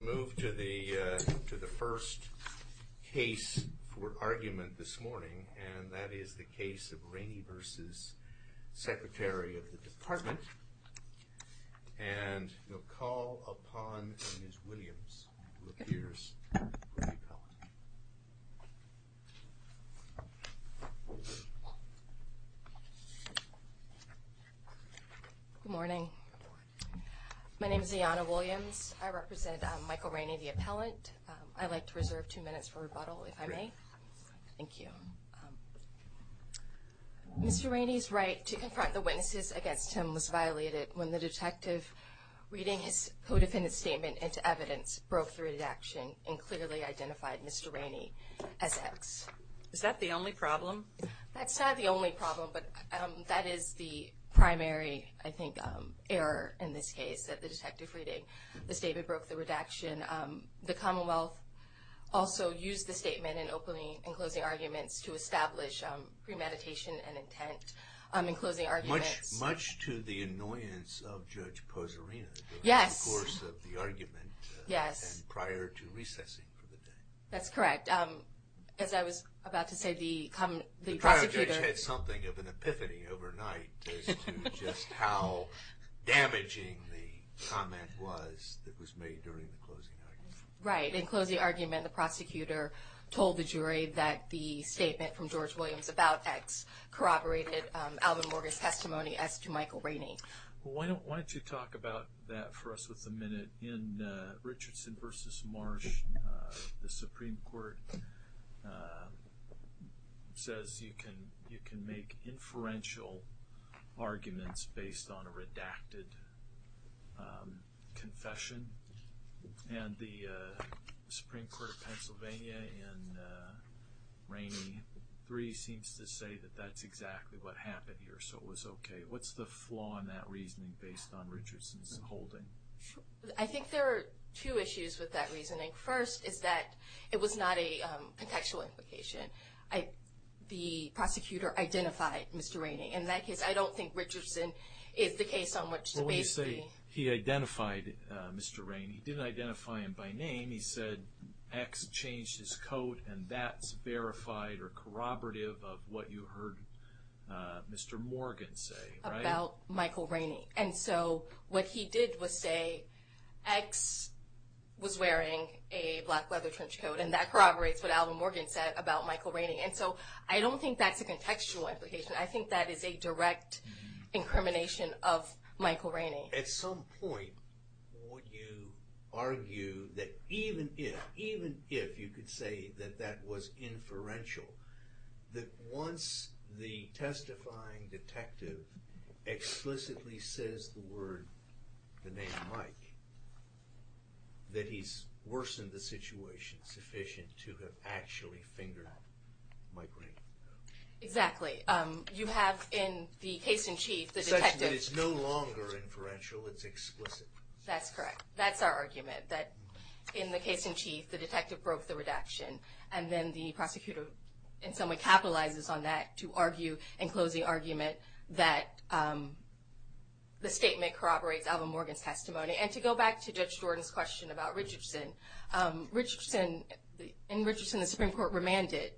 Move to the first case for argument this morning, and that is the case of Rainey v. Secretary of the Department, and we'll call upon Ms. Williams, who appears to be a college student. Good morning. My name is Ayanna Williams. I represent Michael Rainey, the appellant. I'd like to reserve two minutes for rebuttal, if I may. Thank you. Mr. Rainey's right to confront the witnesses against him was violated when the detective reading his co-defendant's statement into evidence broke the redaction and clearly identified Mr. Rainey as X. Is that the only problem? That's not the only problem, but that is the primary, I think, error in this case, that the detective reading the statement broke the redaction. The Commonwealth also used the statement in opening and closing arguments to establish premeditation and intent in closing arguments. Much to the annoyance of Judge Pozzarina. Yes. During the course of the argument. Yes. And prior to recessing for the day. That's correct. As I was about to say, the prosecutor... The trial judge had something of an epiphany overnight as to just how damaging the comment was that was made during the closing argument. Right. In closing argument, the prosecutor told the jury that the statement from George Williams about X corroborated Alvin Morgan's testimony as to Michael Rainey. Well, why don't you talk about that for us with a minute. In Richardson v. Marsh, the Supreme Court says you can make inferential arguments based on a redacted confession. And the Supreme Court of Pennsylvania in Rainey III seems to say that that's exactly what happened here, so it was okay. What's the flaw in that reasoning based on Richardson's holding? I think there are two issues with that reasoning. First is that it was not a contextual implication. The prosecutor identified Mr. Rainey. In that case, I don't think Richardson is the case on which to base the... He identified Mr. Rainey. He didn't identify him by name. He said X changed his coat, and that's verified or corroborative of what you heard Mr. Morgan say. About Michael Rainey. And so what he did was say X was wearing a black leather trench coat, and that corroborates what Alvin Morgan said about Michael Rainey. And so I don't think that's a contextual implication. I think that is a direct incrimination of Michael Rainey. At some point, would you argue that even if, even if you could say that that was inferential, that once the testifying detective explicitly says the word, the name Mike, that he's worsened the situation sufficient to have actually fingered Mike Rainey? Exactly. You have in the case in chief, the detective... Essentially, it's no longer inferential. It's explicit. That's correct. That's our argument, that in the case in chief, the detective broke the redaction, and then the prosecutor in some way capitalizes on that to argue and close the argument that the statement corroborates Alvin Morgan's testimony. And to go back to Judge Jordan's question about Richardson, in Richardson, the Supreme Court remanded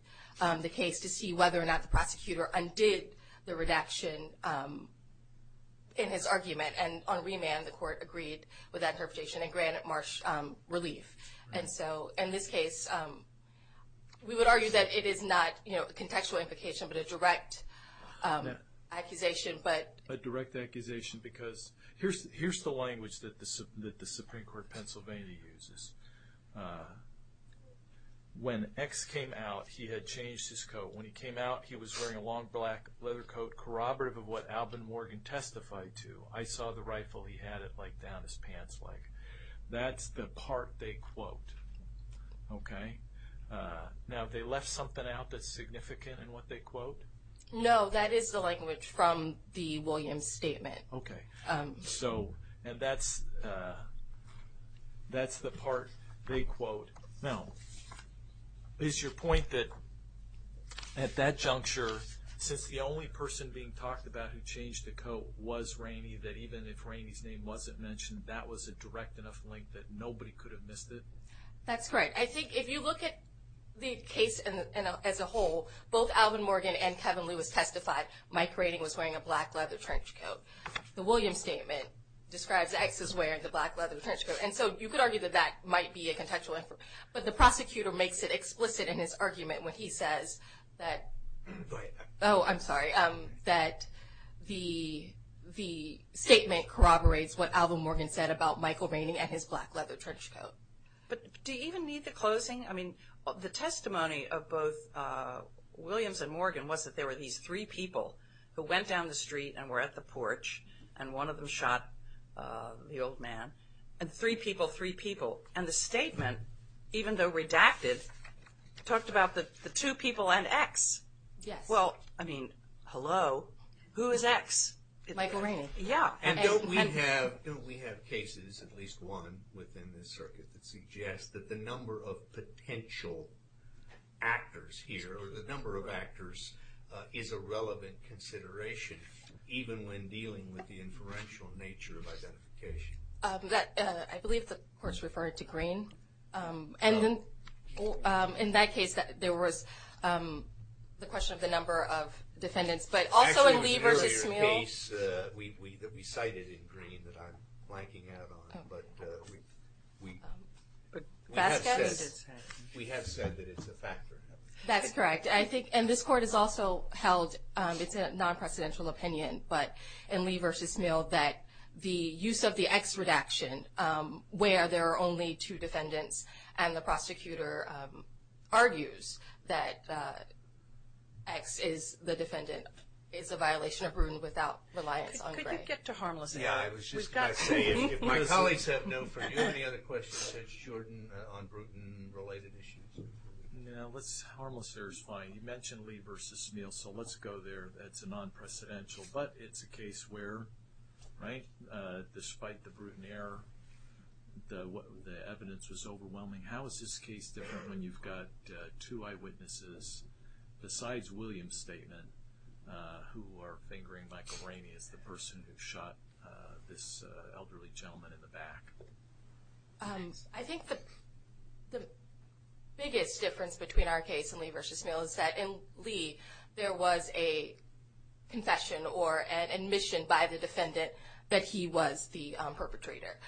the case to see whether or not the prosecutor undid the redaction in his argument. And on remand, the court agreed with that interpretation and granted Marsh relief. And so in this case, we would argue that it is not a contextual implication, but a direct accusation. A direct accusation, because here's the language that the Supreme Court of Pennsylvania uses. When X came out, he had changed his coat. When he came out, he was wearing a long black leather coat corroborative of what Alvin Morgan testified to. I saw the rifle. He had it down his pants. That's the part they quote. Okay? Now, they left something out that's significant in what they quote? No, that is the language from the Williams statement. Okay. So, and that's the part they quote. Now, is your point that at that juncture, since the only person being talked about who changed the coat was Rainey, that even if Rainey's name wasn't mentioned, that was a direct enough link that nobody could have missed it? That's correct. I think if you look at the case as a whole, both Alvin Morgan and Kevin Lewis testified Mike Rainey was wearing a black leather trench coat. The Williams statement describes X as wearing the black leather trench coat. And so you could argue that that might be a contextual, but the prosecutor makes it explicit in his argument when he says that, oh, I'm sorry, that the statement corroborates what Alvin Morgan said about Michael Rainey and his black leather trench coat. But do you even need the closing? I mean, the testimony of both Williams and Morgan was that there were these three people who went down the street and were at the porch, and one of them shot the old man. And three people, three people. And the statement, even though redacted, talked about the two people and X. Yes. Well, I mean, hello? Who is X? Michael Rainey. Yeah. And don't we have cases, at least one within this circuit, that suggests that the number of potential actors here, or the number of actors, is a relevant consideration, even when dealing with the inferential nature of identification? I believe the court referred to Green. Oh. And in that case, there was the question of the number of defendants. Actually, in an earlier case, we cited in Green that I'm blanking out on, but we have said that it's a factor. That's correct. I think, and this court has also held, it's a non-precedential opinion, but in Lee v. Smale, that the use of the X redaction, where there are only two defendants, and the prosecutor argues that X is the defendant, is a violation of Bruton without reliance on Gray. Could you get to harmless there? Yeah, I was just going to say, if my colleagues have no further questions. Do you have any other questions, Judge Jordan, on Bruton-related issues? No, let's, harmless there is fine. You mentioned Lee v. Smale, so let's go there. It's a non-precedential, but it's a case where, right, despite the Bruton error, the evidence was overwhelming. How is this case different when you've got two eyewitnesses, besides William's statement, who are fingering Michael Rainey as the person who shot this elderly gentleman in the back? I think the biggest difference between our case and Lee v. Smale is that in Lee, there was a confession or an admission by the defendant that he was the perpetrator.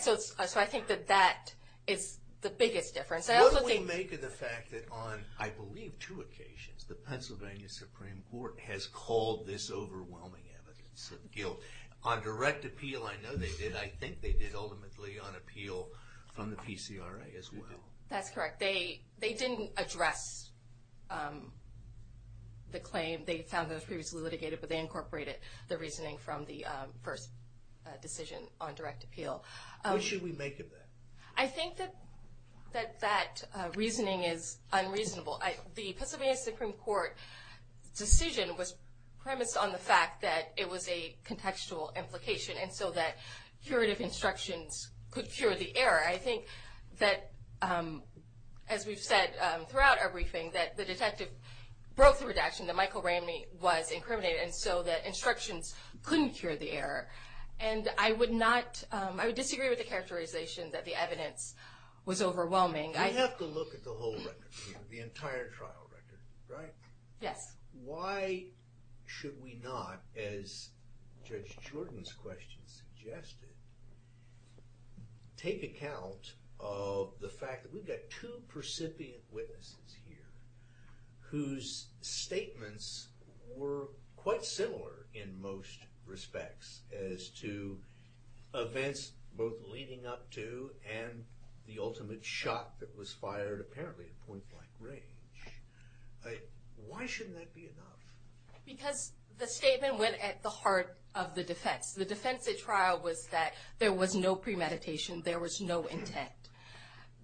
So I think that that is the biggest difference. What do we make of the fact that on, I believe, two occasions, the Pennsylvania Supreme Court has called this overwhelming evidence of guilt? On direct appeal, I know they did. I think they did, ultimately, on appeal from the PCRA as well. That's correct. They didn't address the claim. They found that it was previously litigated, but they incorporated the reasoning from the first decision on direct appeal. What should we make of that? I think that that reasoning is unreasonable. The Pennsylvania Supreme Court decision was premised on the fact that it was a contextual implication, and so that curative instructions could cure the error. I think that, as we've said throughout our briefing, that the detective broke the redaction, that Michael Rainey was incriminated, and so that instructions couldn't cure the error. And I would disagree with the characterization that the evidence was overwhelming. Well, we have to look at the whole record here, the entire trial record, right? Yes. Why should we not, as Judge Jordan's question suggested, take account of the fact that we've got two percipient witnesses here whose statements were quite similar, in most respects, as to events both leading up to and the ultimate shot that was fired, apparently at point blank range. Why shouldn't that be enough? Because the statement went at the heart of the defense. The defense at trial was that there was no premeditation, there was no intent.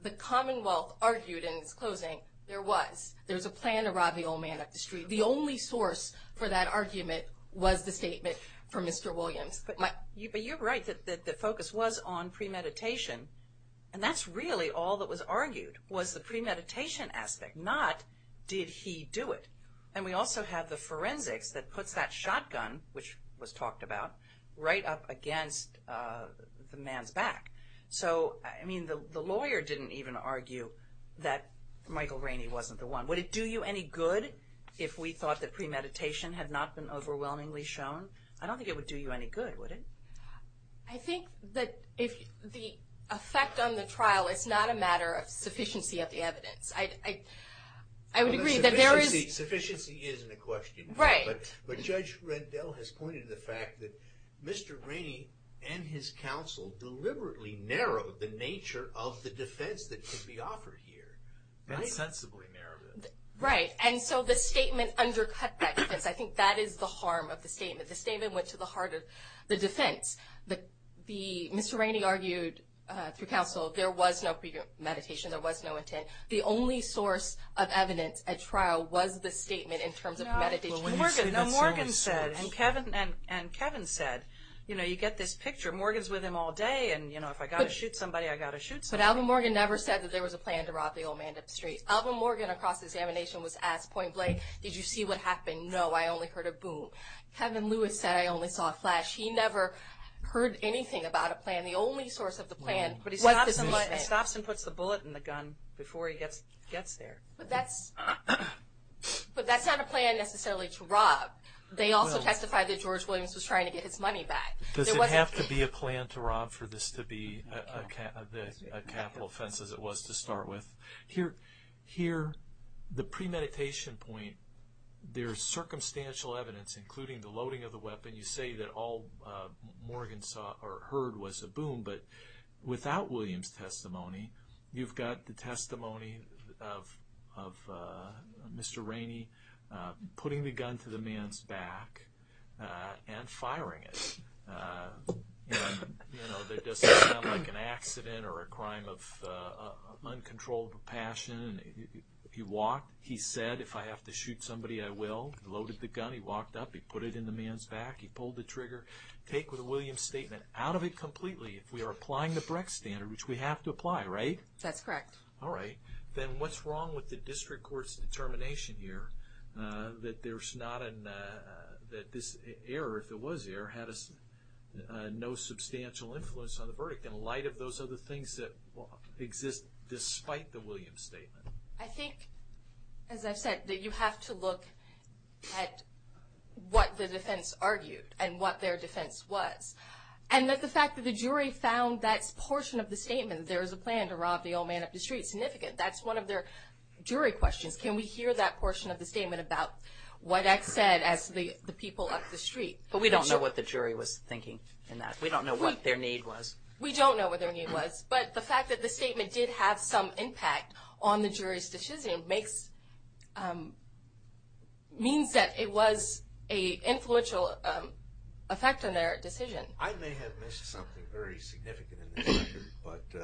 The Commonwealth argued in its closing, there was. There was a plan to rob the old man up the street. The only source for that argument was the statement from Mr. Williams. But you're right that the focus was on premeditation. And that's really all that was argued was the premeditation aspect, not did he do it. And we also have the forensics that puts that shotgun, which was talked about, right up against the man's back. So, I mean, the lawyer didn't even argue that Michael Rainey wasn't the one. Would it do you any good if we thought that premeditation had not been overwhelmingly shown? I don't think it would do you any good, would it? I think that the effect on the trial is not a matter of sufficiency of the evidence. I would agree that there is. Sufficiency isn't a question. Right. But Judge Rendell has pointed to the fact that Mr. Rainey and his counsel deliberately narrowed the nature of the defense that could be offered here. Very sensibly narrowed it. Right. And so the statement undercut that defense. I think that is the harm of the statement. The statement went to the heart of the defense. Mr. Rainey argued through counsel there was no premeditation, there was no intent. The only source of evidence at trial was the statement in terms of premeditation. No, Morgan said, and Kevin said, you know, you get this picture. Morgan's with him all day, and, you know, if I've got to shoot somebody, I've got to shoot somebody. But Alvin Morgan never said that there was a plan to rob the old man up the street. Alvin Morgan across the examination was asked point blank, did you see what happened? No, I only heard a boom. Kevin Lewis said I only saw a flash. He never heard anything about a plan. The only source of the plan was the statement. But he stops and puts the bullet in the gun before he gets there. But that's not a plan necessarily to rob. They also testified that George Williams was trying to get his money back. Does it have to be a plan to rob for this to be a capital offense as it was to start with? Here, the premeditation point, there is circumstantial evidence, including the loading of the weapon. You say that all Morgan saw or heard was a boom. But without Williams' testimony, you've got the testimony of Mr. Rainey putting the gun to the man's back and firing it. And, you know, that doesn't sound like an accident or a crime of uncontrolled passion. He walked. He said, if I have to shoot somebody, I will. He loaded the gun. He walked up. He pulled the trigger. Take the Williams' statement out of it completely if we are applying the Brecht standard, which we have to apply, right? That's correct. All right. Then what's wrong with the district court's determination here that there's not an – that this error, if it was an error, had no substantial influence on the verdict in light of those other things that exist despite the Williams' statement? I think, as I've said, that you have to look at what the defense argued and what their defense was. And that the fact that the jury found that portion of the statement, there is a plan to rob the old man up the street, significant. That's one of their jury questions. Can we hear that portion of the statement about what X said as the people up the street? But we don't know what the jury was thinking in that. We don't know what their need was. We don't know what their need was. But the fact that the statement did have some impact on the jury's decision makes – means that it was an influential effect on their decision. I may have missed something very significant in this section, but –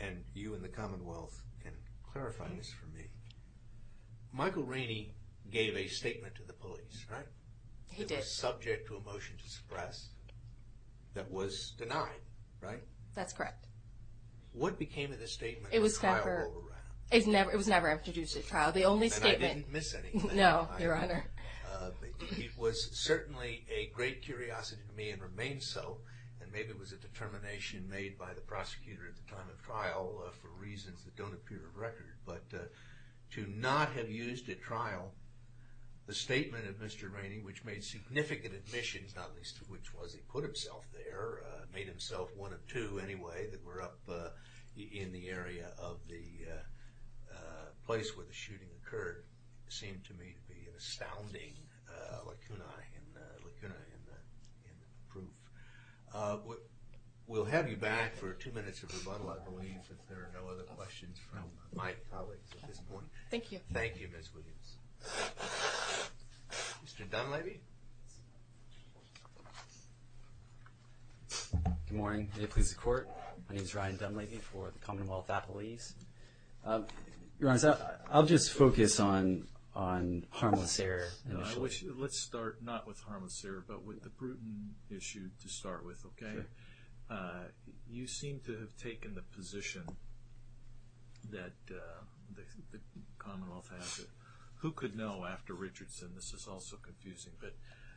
and you and the Commonwealth can clarify this for me. Michael Rainey gave a statement to the police, right? He did. It was subject to a motion to suppress that was denied, right? That's correct. What became of the statement at trial? It was never – it was never introduced at trial. The only statement – And I didn't miss anything. No, Your Honor. It was certainly a great curiosity to me and remains so. And maybe it was a determination made by the prosecutor at the time of trial for reasons that don't appear on record. But to not have used at trial the statement of Mr. Rainey, which made significant admissions, not least of which was he put himself there, made himself one of two anyway that were up in the area of the place where the shooting occurred, seemed to me to be an astounding lacuna in the proof. We'll have you back for two minutes of rebuttal, I believe, if there are no other questions from my colleagues at this point. Thank you. Thank you, Ms. Williams. Mr. Dunleavy. Good morning. May it please the Court. My name is Ryan Dunleavy for the Commonwealth Appellees. Your Honor, I'll just focus on harmless error initially. Let's start not with harmless error but with the Bruton issue to start with, okay? Sure. You seem to have taken the position that the Commonwealth has. Who could know after Richardson? This is also confusing. But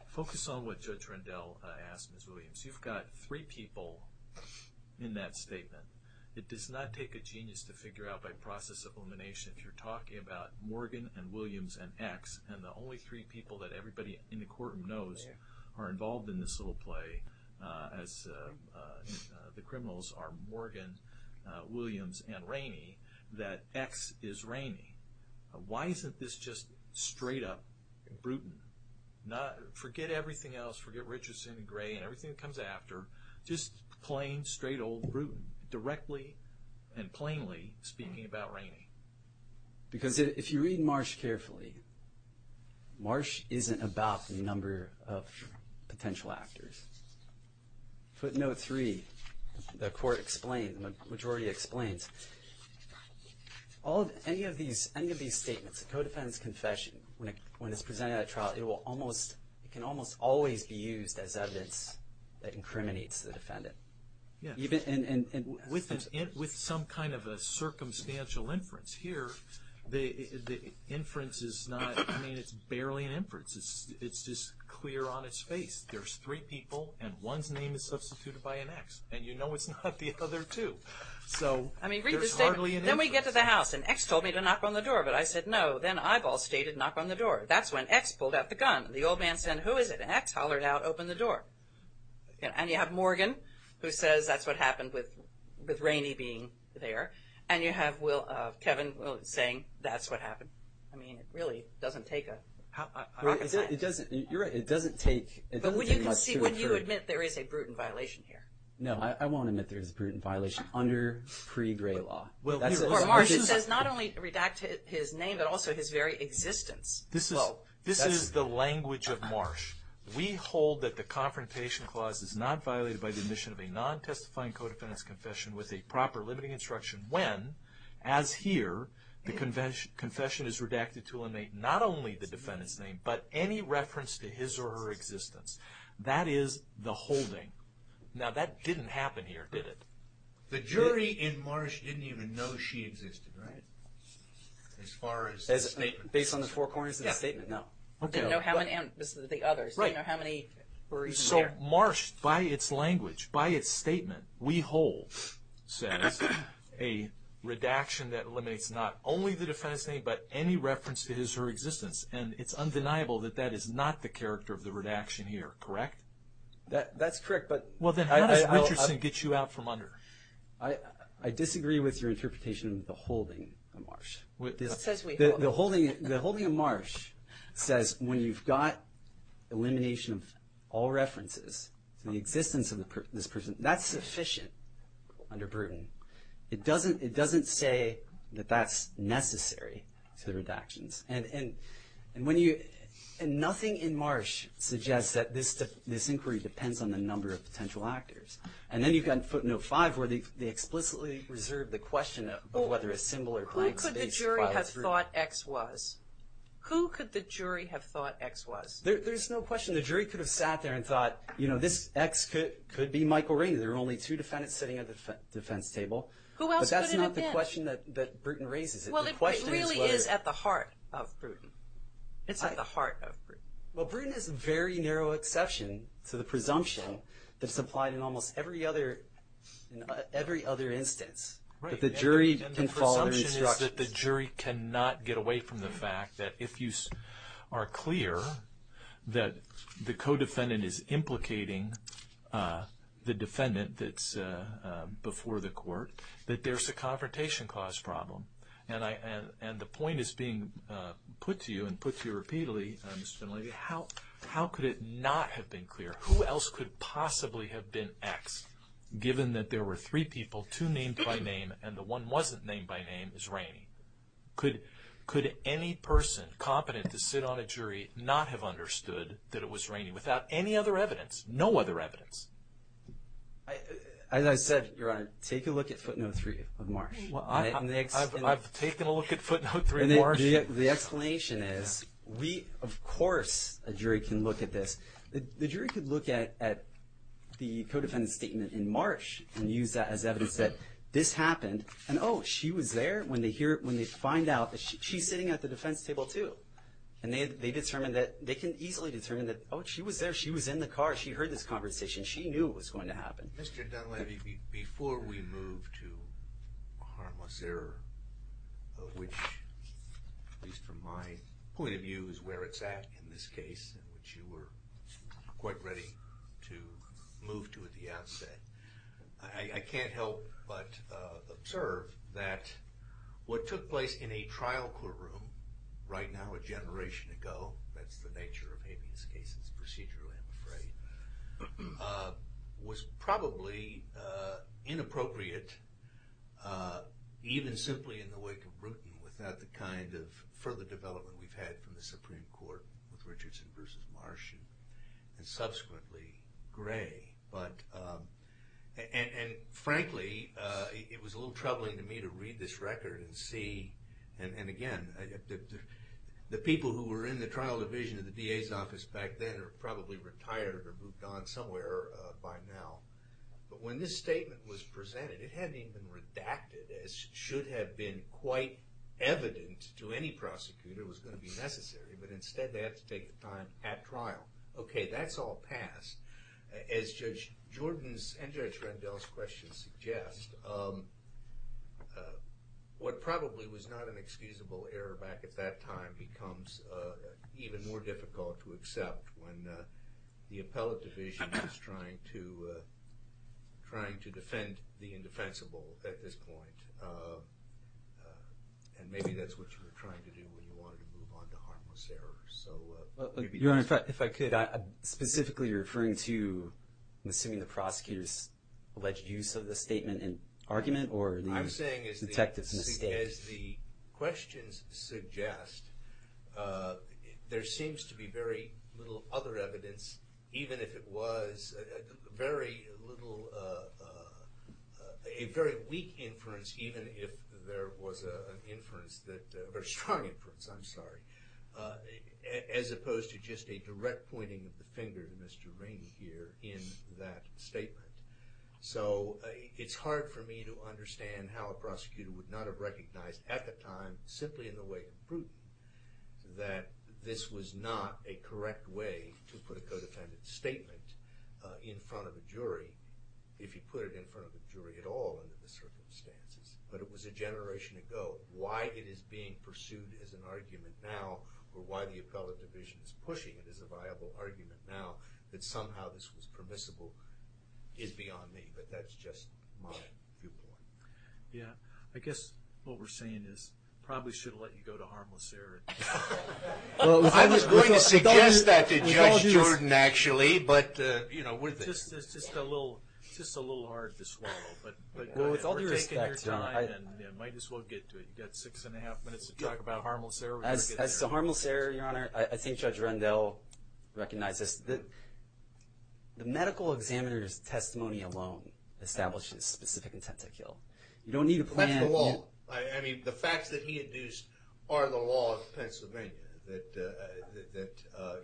focus on what Judge Rendell asked, Ms. Williams. You've got three people in that statement. It does not take a genius to figure out by process of elimination if you're talking about Morgan and Williams and X, and the only three people that everybody in the courtroom knows are involved in this little play as the criminals are Morgan, Williams, and Rainey, that X is Rainey. Why isn't this just straight up Bruton? Forget everything else. Forget Richardson and Gray and everything that comes after. Just plain, straight old Bruton, directly and plainly speaking about Rainey. Because if you read Marsh carefully, Marsh isn't about the number of potential actors. Footnote 3, the majority explains, any of these statements, the co-defendant's confession, when it's presented at a trial, it can almost always be used as evidence that incriminates the defendant. With some kind of a circumstantial inference here, the inference is not, I mean, it's barely an inference. It's just clear on its face. There's three people, and one's name is substituted by an X. And you know it's not the other two. So there's hardly an inference. Then we get to the house, and X told me to knock on the door. But I said, no. Then Eyeball stated, knock on the door. That's when X pulled out the gun. And X hollered out, open the door. And you have Morgan, who says that's what happened with Rainey being there. And you have Kevin saying, that's what happened. I mean, it really doesn't take a hawk's eye. It doesn't. You're right. It doesn't take much to infer. But would you admit there is a Bruton violation here? No, I won't admit there is a Bruton violation under pre-Gray Law. Well, Marsh says not only redact his name, but also his very existence. This is the language of Marsh. We hold that the Confrontation Clause is not violated by the admission of a non-testifying co-defendant's confession with a proper limiting instruction when, as here, the confession is redacted to eliminate not only the defendant's name, but any reference to his or her existence. That is the holding. Now, that didn't happen here, did it? The jury in Marsh didn't even know she existed, right? As far as the statement. Based on the four corners of the statement? No. Okay. Didn't know how many others. Right. Didn't know how many were even there. So Marsh, by its language, by its statement, we hold says a redaction that eliminates not only the defendant's name, but any reference to his or her existence. And it's undeniable that that is not the character of the redaction here, correct? That's correct. Well, then how does Richardson get you out from under? I disagree with your interpretation of the holding of Marsh. It says we hold. The holding of Marsh says when you've got elimination of all references to the existence of this person, that's sufficient under Bruton. It doesn't say that that's necessary to the redactions. And when you – and nothing in Marsh suggests that this inquiry depends on the number of potential actors. And then you've got in footnote five where they explicitly reserve the question of whether a symbol or blank space files through. Who could have thought X was? Who could the jury have thought X was? There's no question. The jury could have sat there and thought, you know, this X could be Michael Rainey. There are only two defendants sitting at the defense table. Who else could it have been? But that's not the question that Bruton raises. Well, it really is at the heart of Bruton. It's at the heart of Bruton. Well, Bruton is a very narrow exception to the presumption that's applied in almost every other instance that the jury can follow instructions. It's that the jury cannot get away from the fact that if you are clear that the co-defendant is implicating the defendant that's before the court, that there's a confrontation cause problem. And the point is being put to you and put to you repeatedly, Mr. VanLaney, how could it not have been clear? Who else could possibly have been X given that there were three people, two named by name, and the one wasn't named by name is Rainey? Could any person competent to sit on a jury not have understood that it was Rainey without any other evidence, no other evidence? As I said, Your Honor, take a look at footnote three of Marsh. I've taken a look at footnote three of Marsh. The explanation is we, of course, a jury can look at this. The jury could look at the co-defendant's statement in Marsh and use that as evidence that this happened. And, oh, she was there when they find out. She's sitting at the defense table, too. And they can easily determine that, oh, she was there. She was in the car. She heard this conversation. She knew it was going to happen. Mr. Dunleavy, before we move to Maharmazir, which at least from my point of view is where it's at in this case in which you were quite ready to move to at the outset, I can't help but observe that what took place in a trial courtroom right now a generation ago, that's the nature of habeas cases procedurally, I'm afraid, was probably inappropriate even simply in the wake of Bruton without the kind of further development we've had from the Supreme Court with Richardson versus Marsh and subsequently Gray. And frankly, it was a little troubling to me to read this record and see, and again, the people who were in the trial division of the DA's office back then are probably retired or moved on somewhere by now. But when this statement was presented, it hadn't even redacted as should have been quite evident to any prosecutor it was going to be necessary, but instead they had to take the time at trial. Okay, that's all passed. As Judge Jordan's and Judge Rendell's questions suggest, what probably was not an excusable error back at that time becomes even more difficult to accept when the appellate division is trying to defend the indefensible at this point. And maybe that's what you were trying to do when you wanted to move on to harmless errors. Your Honor, if I could, I'm specifically referring to and assuming the prosecutor's alleged use of the statement in argument or the detective's mistake. As the questions suggest, there seems to be very little other evidence, even if it was very little, a very weak inference, even if there was an inference, a very strong inference, I'm sorry, as opposed to just a direct pointing of the finger to Mr. Rainey here in that statement. So it's hard for me to understand how a prosecutor would not have recognized at the time, simply in the way of proof, that this was not a correct way to put a co-defendant's statement in front of a jury, if you put it in front of a jury at all under the circumstances. But it was a generation ago. Why it is being pursued as an argument now, or why the appellate division is pushing it as a viable argument now, that somehow this was permissible, is beyond me. But that's just my viewpoint. Yeah. I guess what we're saying is we probably should have let you go to harmless error. I was going to suggest that to Judge Jordan, actually. But, you know, it's just a little hard to swallow. But with all due respect, John, I— We're taking your time, and might as well get to it. You've got six and a half minutes to talk about harmless error. As to harmless error, Your Honor, I think Judge Rendell recognizes that the medical examiner's testimony alone establishes specific intent to kill. You don't need a plan— That's the law. I mean, the facts that he induced are the law of Pennsylvania, that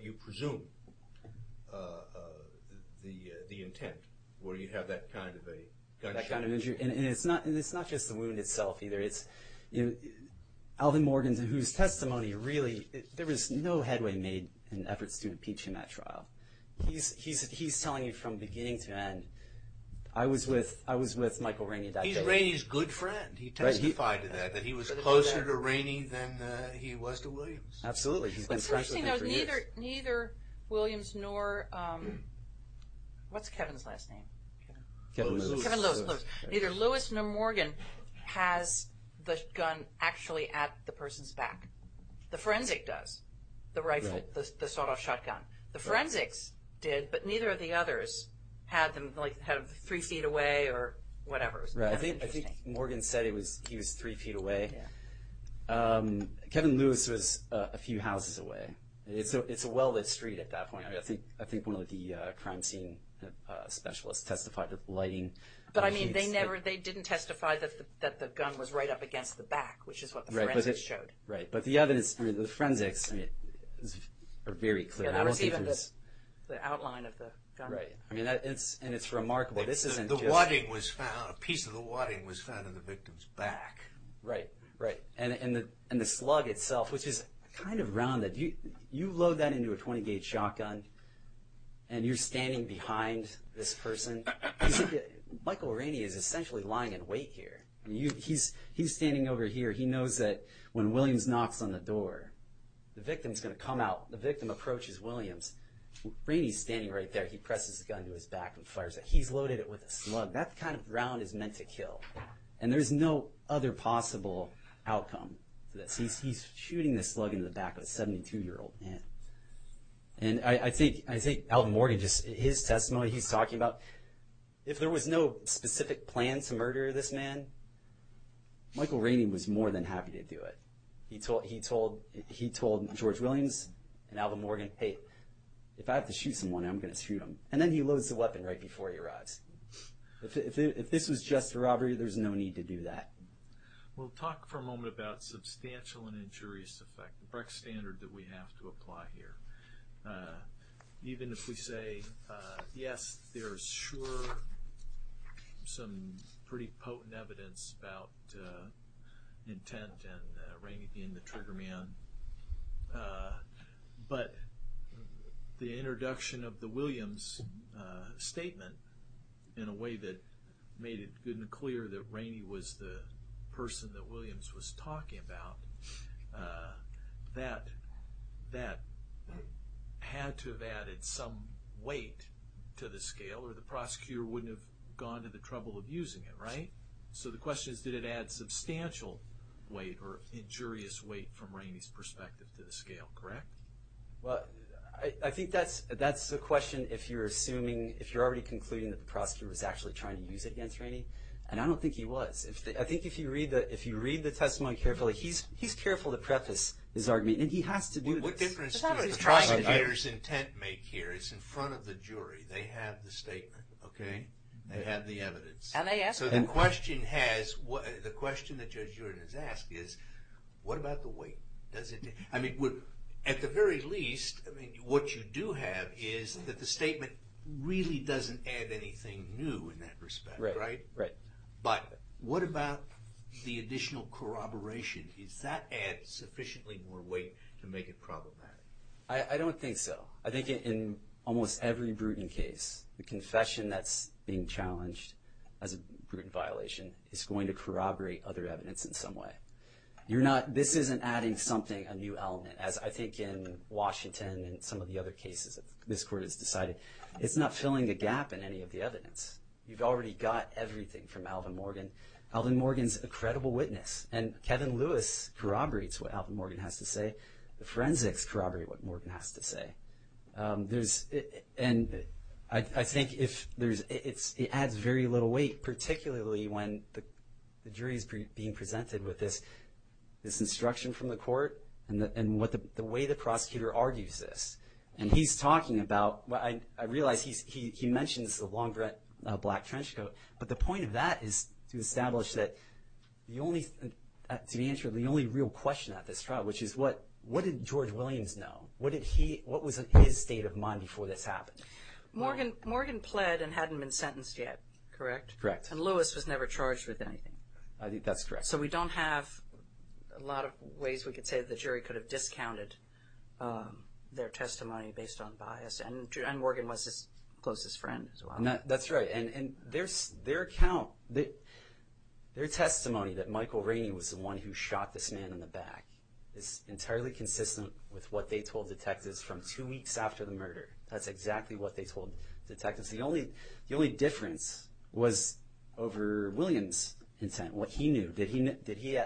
you presume the intent, where you have that kind of a gunshot wound. That kind of injury. And it's not just the wound itself, either. It's Alvin Morgan, whose testimony really— There's no headway made in efforts to impeach him at trial. He's telling you from beginning to end, I was with Michael Rainey. He's Rainey's good friend. He testified to that, that he was closer to Rainey than he was to Williams. Absolutely. He's been friends with him for years. What's interesting, though, is neither Williams nor—what's Kevin's last name? Kevin Lewis. Kevin Lewis. Neither Lewis nor Morgan has the gun actually at the person's back. The forensic does, the rifle, the sawed-off shotgun. The forensics did, but neither of the others had them three feet away or whatever. I think Morgan said he was three feet away. Kevin Lewis was a few houses away. It's a well-lit street at that point. I think one of the crime scene specialists testified to the lighting. But, I mean, they didn't testify that the gun was right up against the back, which is what the forensics showed. Right. But the other is—the forensics are very clear. I don't see from this— It's the outline of the gun. Right. And it's remarkable. This isn't just— The piece of the wadding was found in the victim's back. Right. Right. And the slug itself, which is kind of rounded. You load that into a 20-gauge shotgun, and you're standing behind this person. Michael Rainey is essentially lying in wait here. He's standing over here. He knows that when Williams knocks on the door, the victim's going to come out. The victim approaches Williams. Rainey's standing right there. He presses the gun to his back and fires it. He's loaded it with a slug. That kind of round is meant to kill. And there's no other possible outcome to this. He's shooting the slug into the back of a 72-year-old man. And I think Alvin Morgan, just his testimony he's talking about, if there was no specific plan to murder this man, Michael Rainey was more than happy to do it. He told George Williams and Alvin Morgan, hey, if I have to shoot someone, I'm going to shoot him. And then he loads the weapon right before he arrives. If this was just a robbery, there's no need to do that. We'll talk for a moment about substantial and injurious effect, the Brecht standard that we have to apply here. Even if we say, yes, there's sure some pretty potent evidence about intent and Rainey being the trigger man, but the introduction of the Williams statement in a way that made it good and clear that Rainey was the person that Williams was talking about, that had to have added some weight to the scale or the prosecutor wouldn't have gone to the trouble of using it, right? So the question is, did it add substantial weight or injurious weight from Rainey's perspective to the scale, correct? Well, I think that's the question if you're assuming, if you're already concluding that the prosecutor was actually trying to use it against Rainey. And I don't think he was. I think if you read the testimony carefully, he's careful to preface his argument. And he has to do this. What difference does the prosecutor's intent make here? It's in front of the jury. They have the statement, okay? They have the evidence. So the question that Judge Jordan has asked is, what about the weight? I mean, at the very least, what you do have is that the statement really doesn't add anything new in that respect, right? Right. But what about the additional corroboration? Does that add sufficiently more weight to make it problematic? I don't think so. I think in almost every Bruton case, the confession that's being challenged as a Bruton violation is going to corroborate other evidence in some way. This isn't adding something, a new element, as I think in Washington and some of the other cases that this Court has decided. It's not filling the gap in any of the evidence. You've already got everything from Alvin Morgan. Alvin Morgan's a credible witness, and Kevin Lewis corroborates what Alvin Morgan has to say. The forensics corroborate what Morgan has to say. And I think it adds very little weight, particularly when the jury is being presented with this instruction from the Court and the way the prosecutor argues this. And he's talking about, I realize he mentions the long black trench coat, but the point of that is to establish that the only real question at this trial, which is what did George Williams know? What was his state of mind before this happened? Morgan pled and hadn't been sentenced yet, correct? Correct. And Lewis was never charged with anything? That's correct. So we don't have a lot of ways we could say the jury could have discounted their testimony based on bias. And Morgan was his closest friend as well. That's right. And their testimony that Michael Rainey was the one who shot this man in the back is entirely consistent with what they told detectives from two weeks after the murder. That's exactly what they told detectives. The only difference was over Williams' intent, what he knew.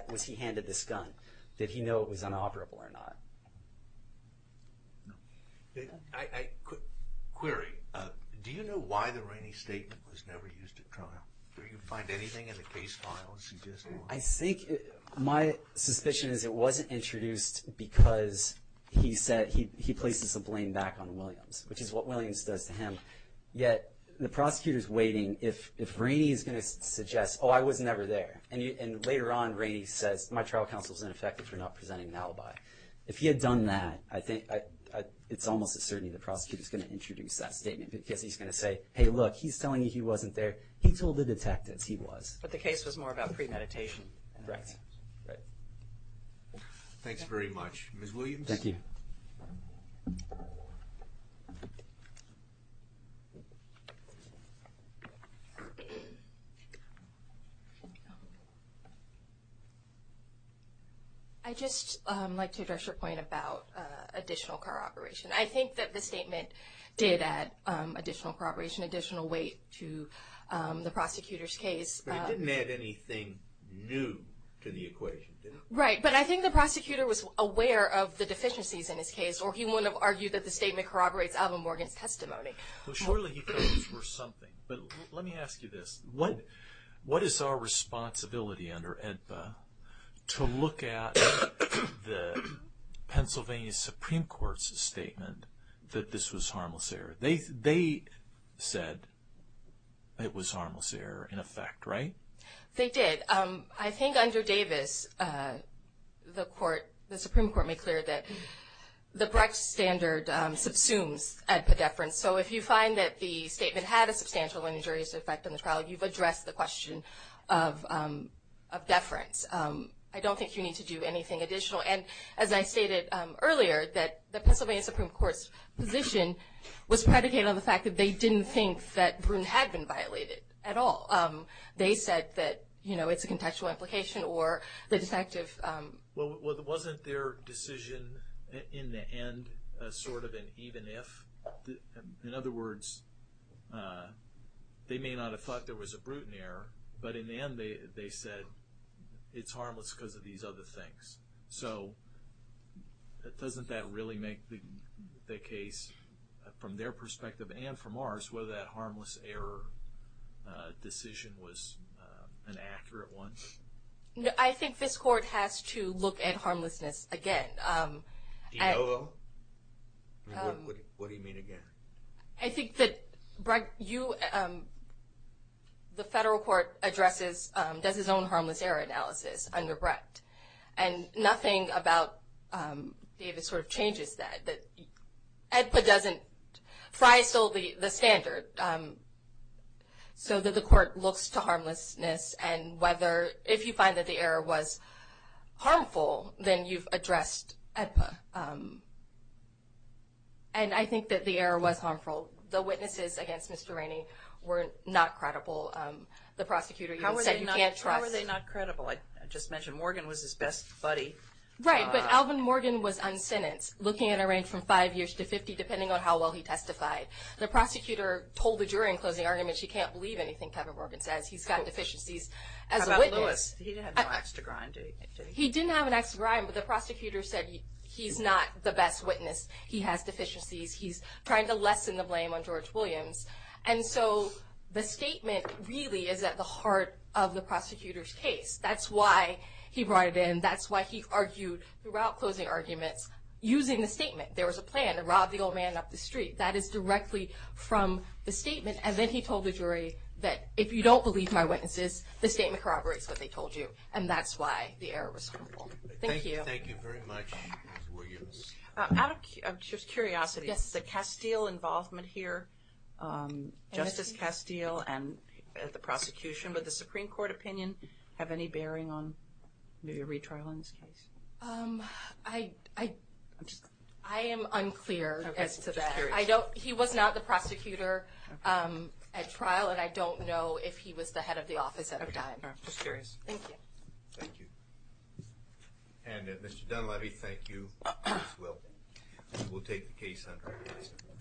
Was he handed this gun? Did he know it was inoperable or not? Query. Do you know why the Rainey statement was never used at trial? Did you find anything in the case files suggesting that? I think my suspicion is it wasn't introduced because he said he places the blame back on Williams, which is what Williams does to him. Yet the prosecutor is waiting. If Rainey is going to suggest, oh, I was never there, and later on Rainey says my trial counsel is ineffective for not presenting an alibi. If he had done that, it's almost a certainty the prosecutor is going to introduce that statement because he's going to say, hey, look, he's telling you he wasn't there. He told the detectives he was. But the case was more about premeditation. Right. Thanks very much. Ms. Williams? Thank you. I'd just like to address your point about additional corroboration. I think that the statement did add additional corroboration, additional weight to the prosecutor's case. But it didn't add anything new to the equation, did it? Right. But I think the prosecutor was aware of the deficiencies in his case, or he wouldn't have argued that the statement corroborates Alvin Morgan's testimony. Well, surely he thought those were something. But let me ask you this. What is our responsibility under AEDPA to look at the Pennsylvania Supreme Court's statement that this was harmless error? They said it was harmless error in effect, right? They did. I think under Davis, the Supreme Court made clear that the Brecht standard subsumes AEDPA deference. So if you find that the statement had a substantial and injurious effect on the trial, you've addressed the question of deference. I don't think you need to do anything additional. And as I stated earlier, that the Pennsylvania Supreme Court's position was predicated on the fact that they didn't think that Brun had been violated at all. They said that, you know, it's a contextual implication or the detective. Well, wasn't their decision in the end sort of an even if? In other words, they may not have thought there was a Bruton error, but in the end they said it's harmless because of these other things. So doesn't that really make the case from their perspective and from ours whether that harmless error decision was an accurate one? I think this court has to look at harmlessness again. Do you know? What do you mean again? I think that the federal court does its own harmless error analysis under Brecht. And nothing about Davis sort of changes that. AEDPA doesn't. Fry stole the standard so that the court looks to harmlessness and whether if you find that the error was harmful, then you've addressed AEDPA. And I think that the error was harmful. The witnesses against Mr. Rainey were not credible. The prosecutor even said you can't trust. How were they not credible? I just mentioned Morgan was his best buddy. Right, but Alvin Morgan was unsentenced, looking at a range from five years to 50, depending on how well he testified. The prosecutor told the jury in closing arguments he can't believe anything Kevin Morgan says. He's got deficiencies as a witness. How about Lewis? He didn't have an axe to grind, did he? He didn't have an axe to grind, but the prosecutor said he's not the best witness. He has deficiencies. He's trying to lessen the blame on George Williams. And so the statement really is at the heart of the prosecutor's case. That's why he brought it in. That's why he argued throughout closing arguments using the statement. There was a plan to rob the old man up the street. That is directly from the statement. And then he told the jury that if you don't believe my witnesses, the statement corroborates what they told you, and that's why the error was harmful. Thank you. Thank you very much, Ms. Williams. Out of just curiosity, the Castile involvement here, Justice Castile and the prosecution, would the Supreme Court opinion have any bearing on maybe a retrial in this case? I am unclear as to that. He was not the prosecutor at trial, and I don't know if he was the head of the office at the time. Just curious. Thank you. Thank you. And Mr. Dunleavy, thank you. We'll take the case under review.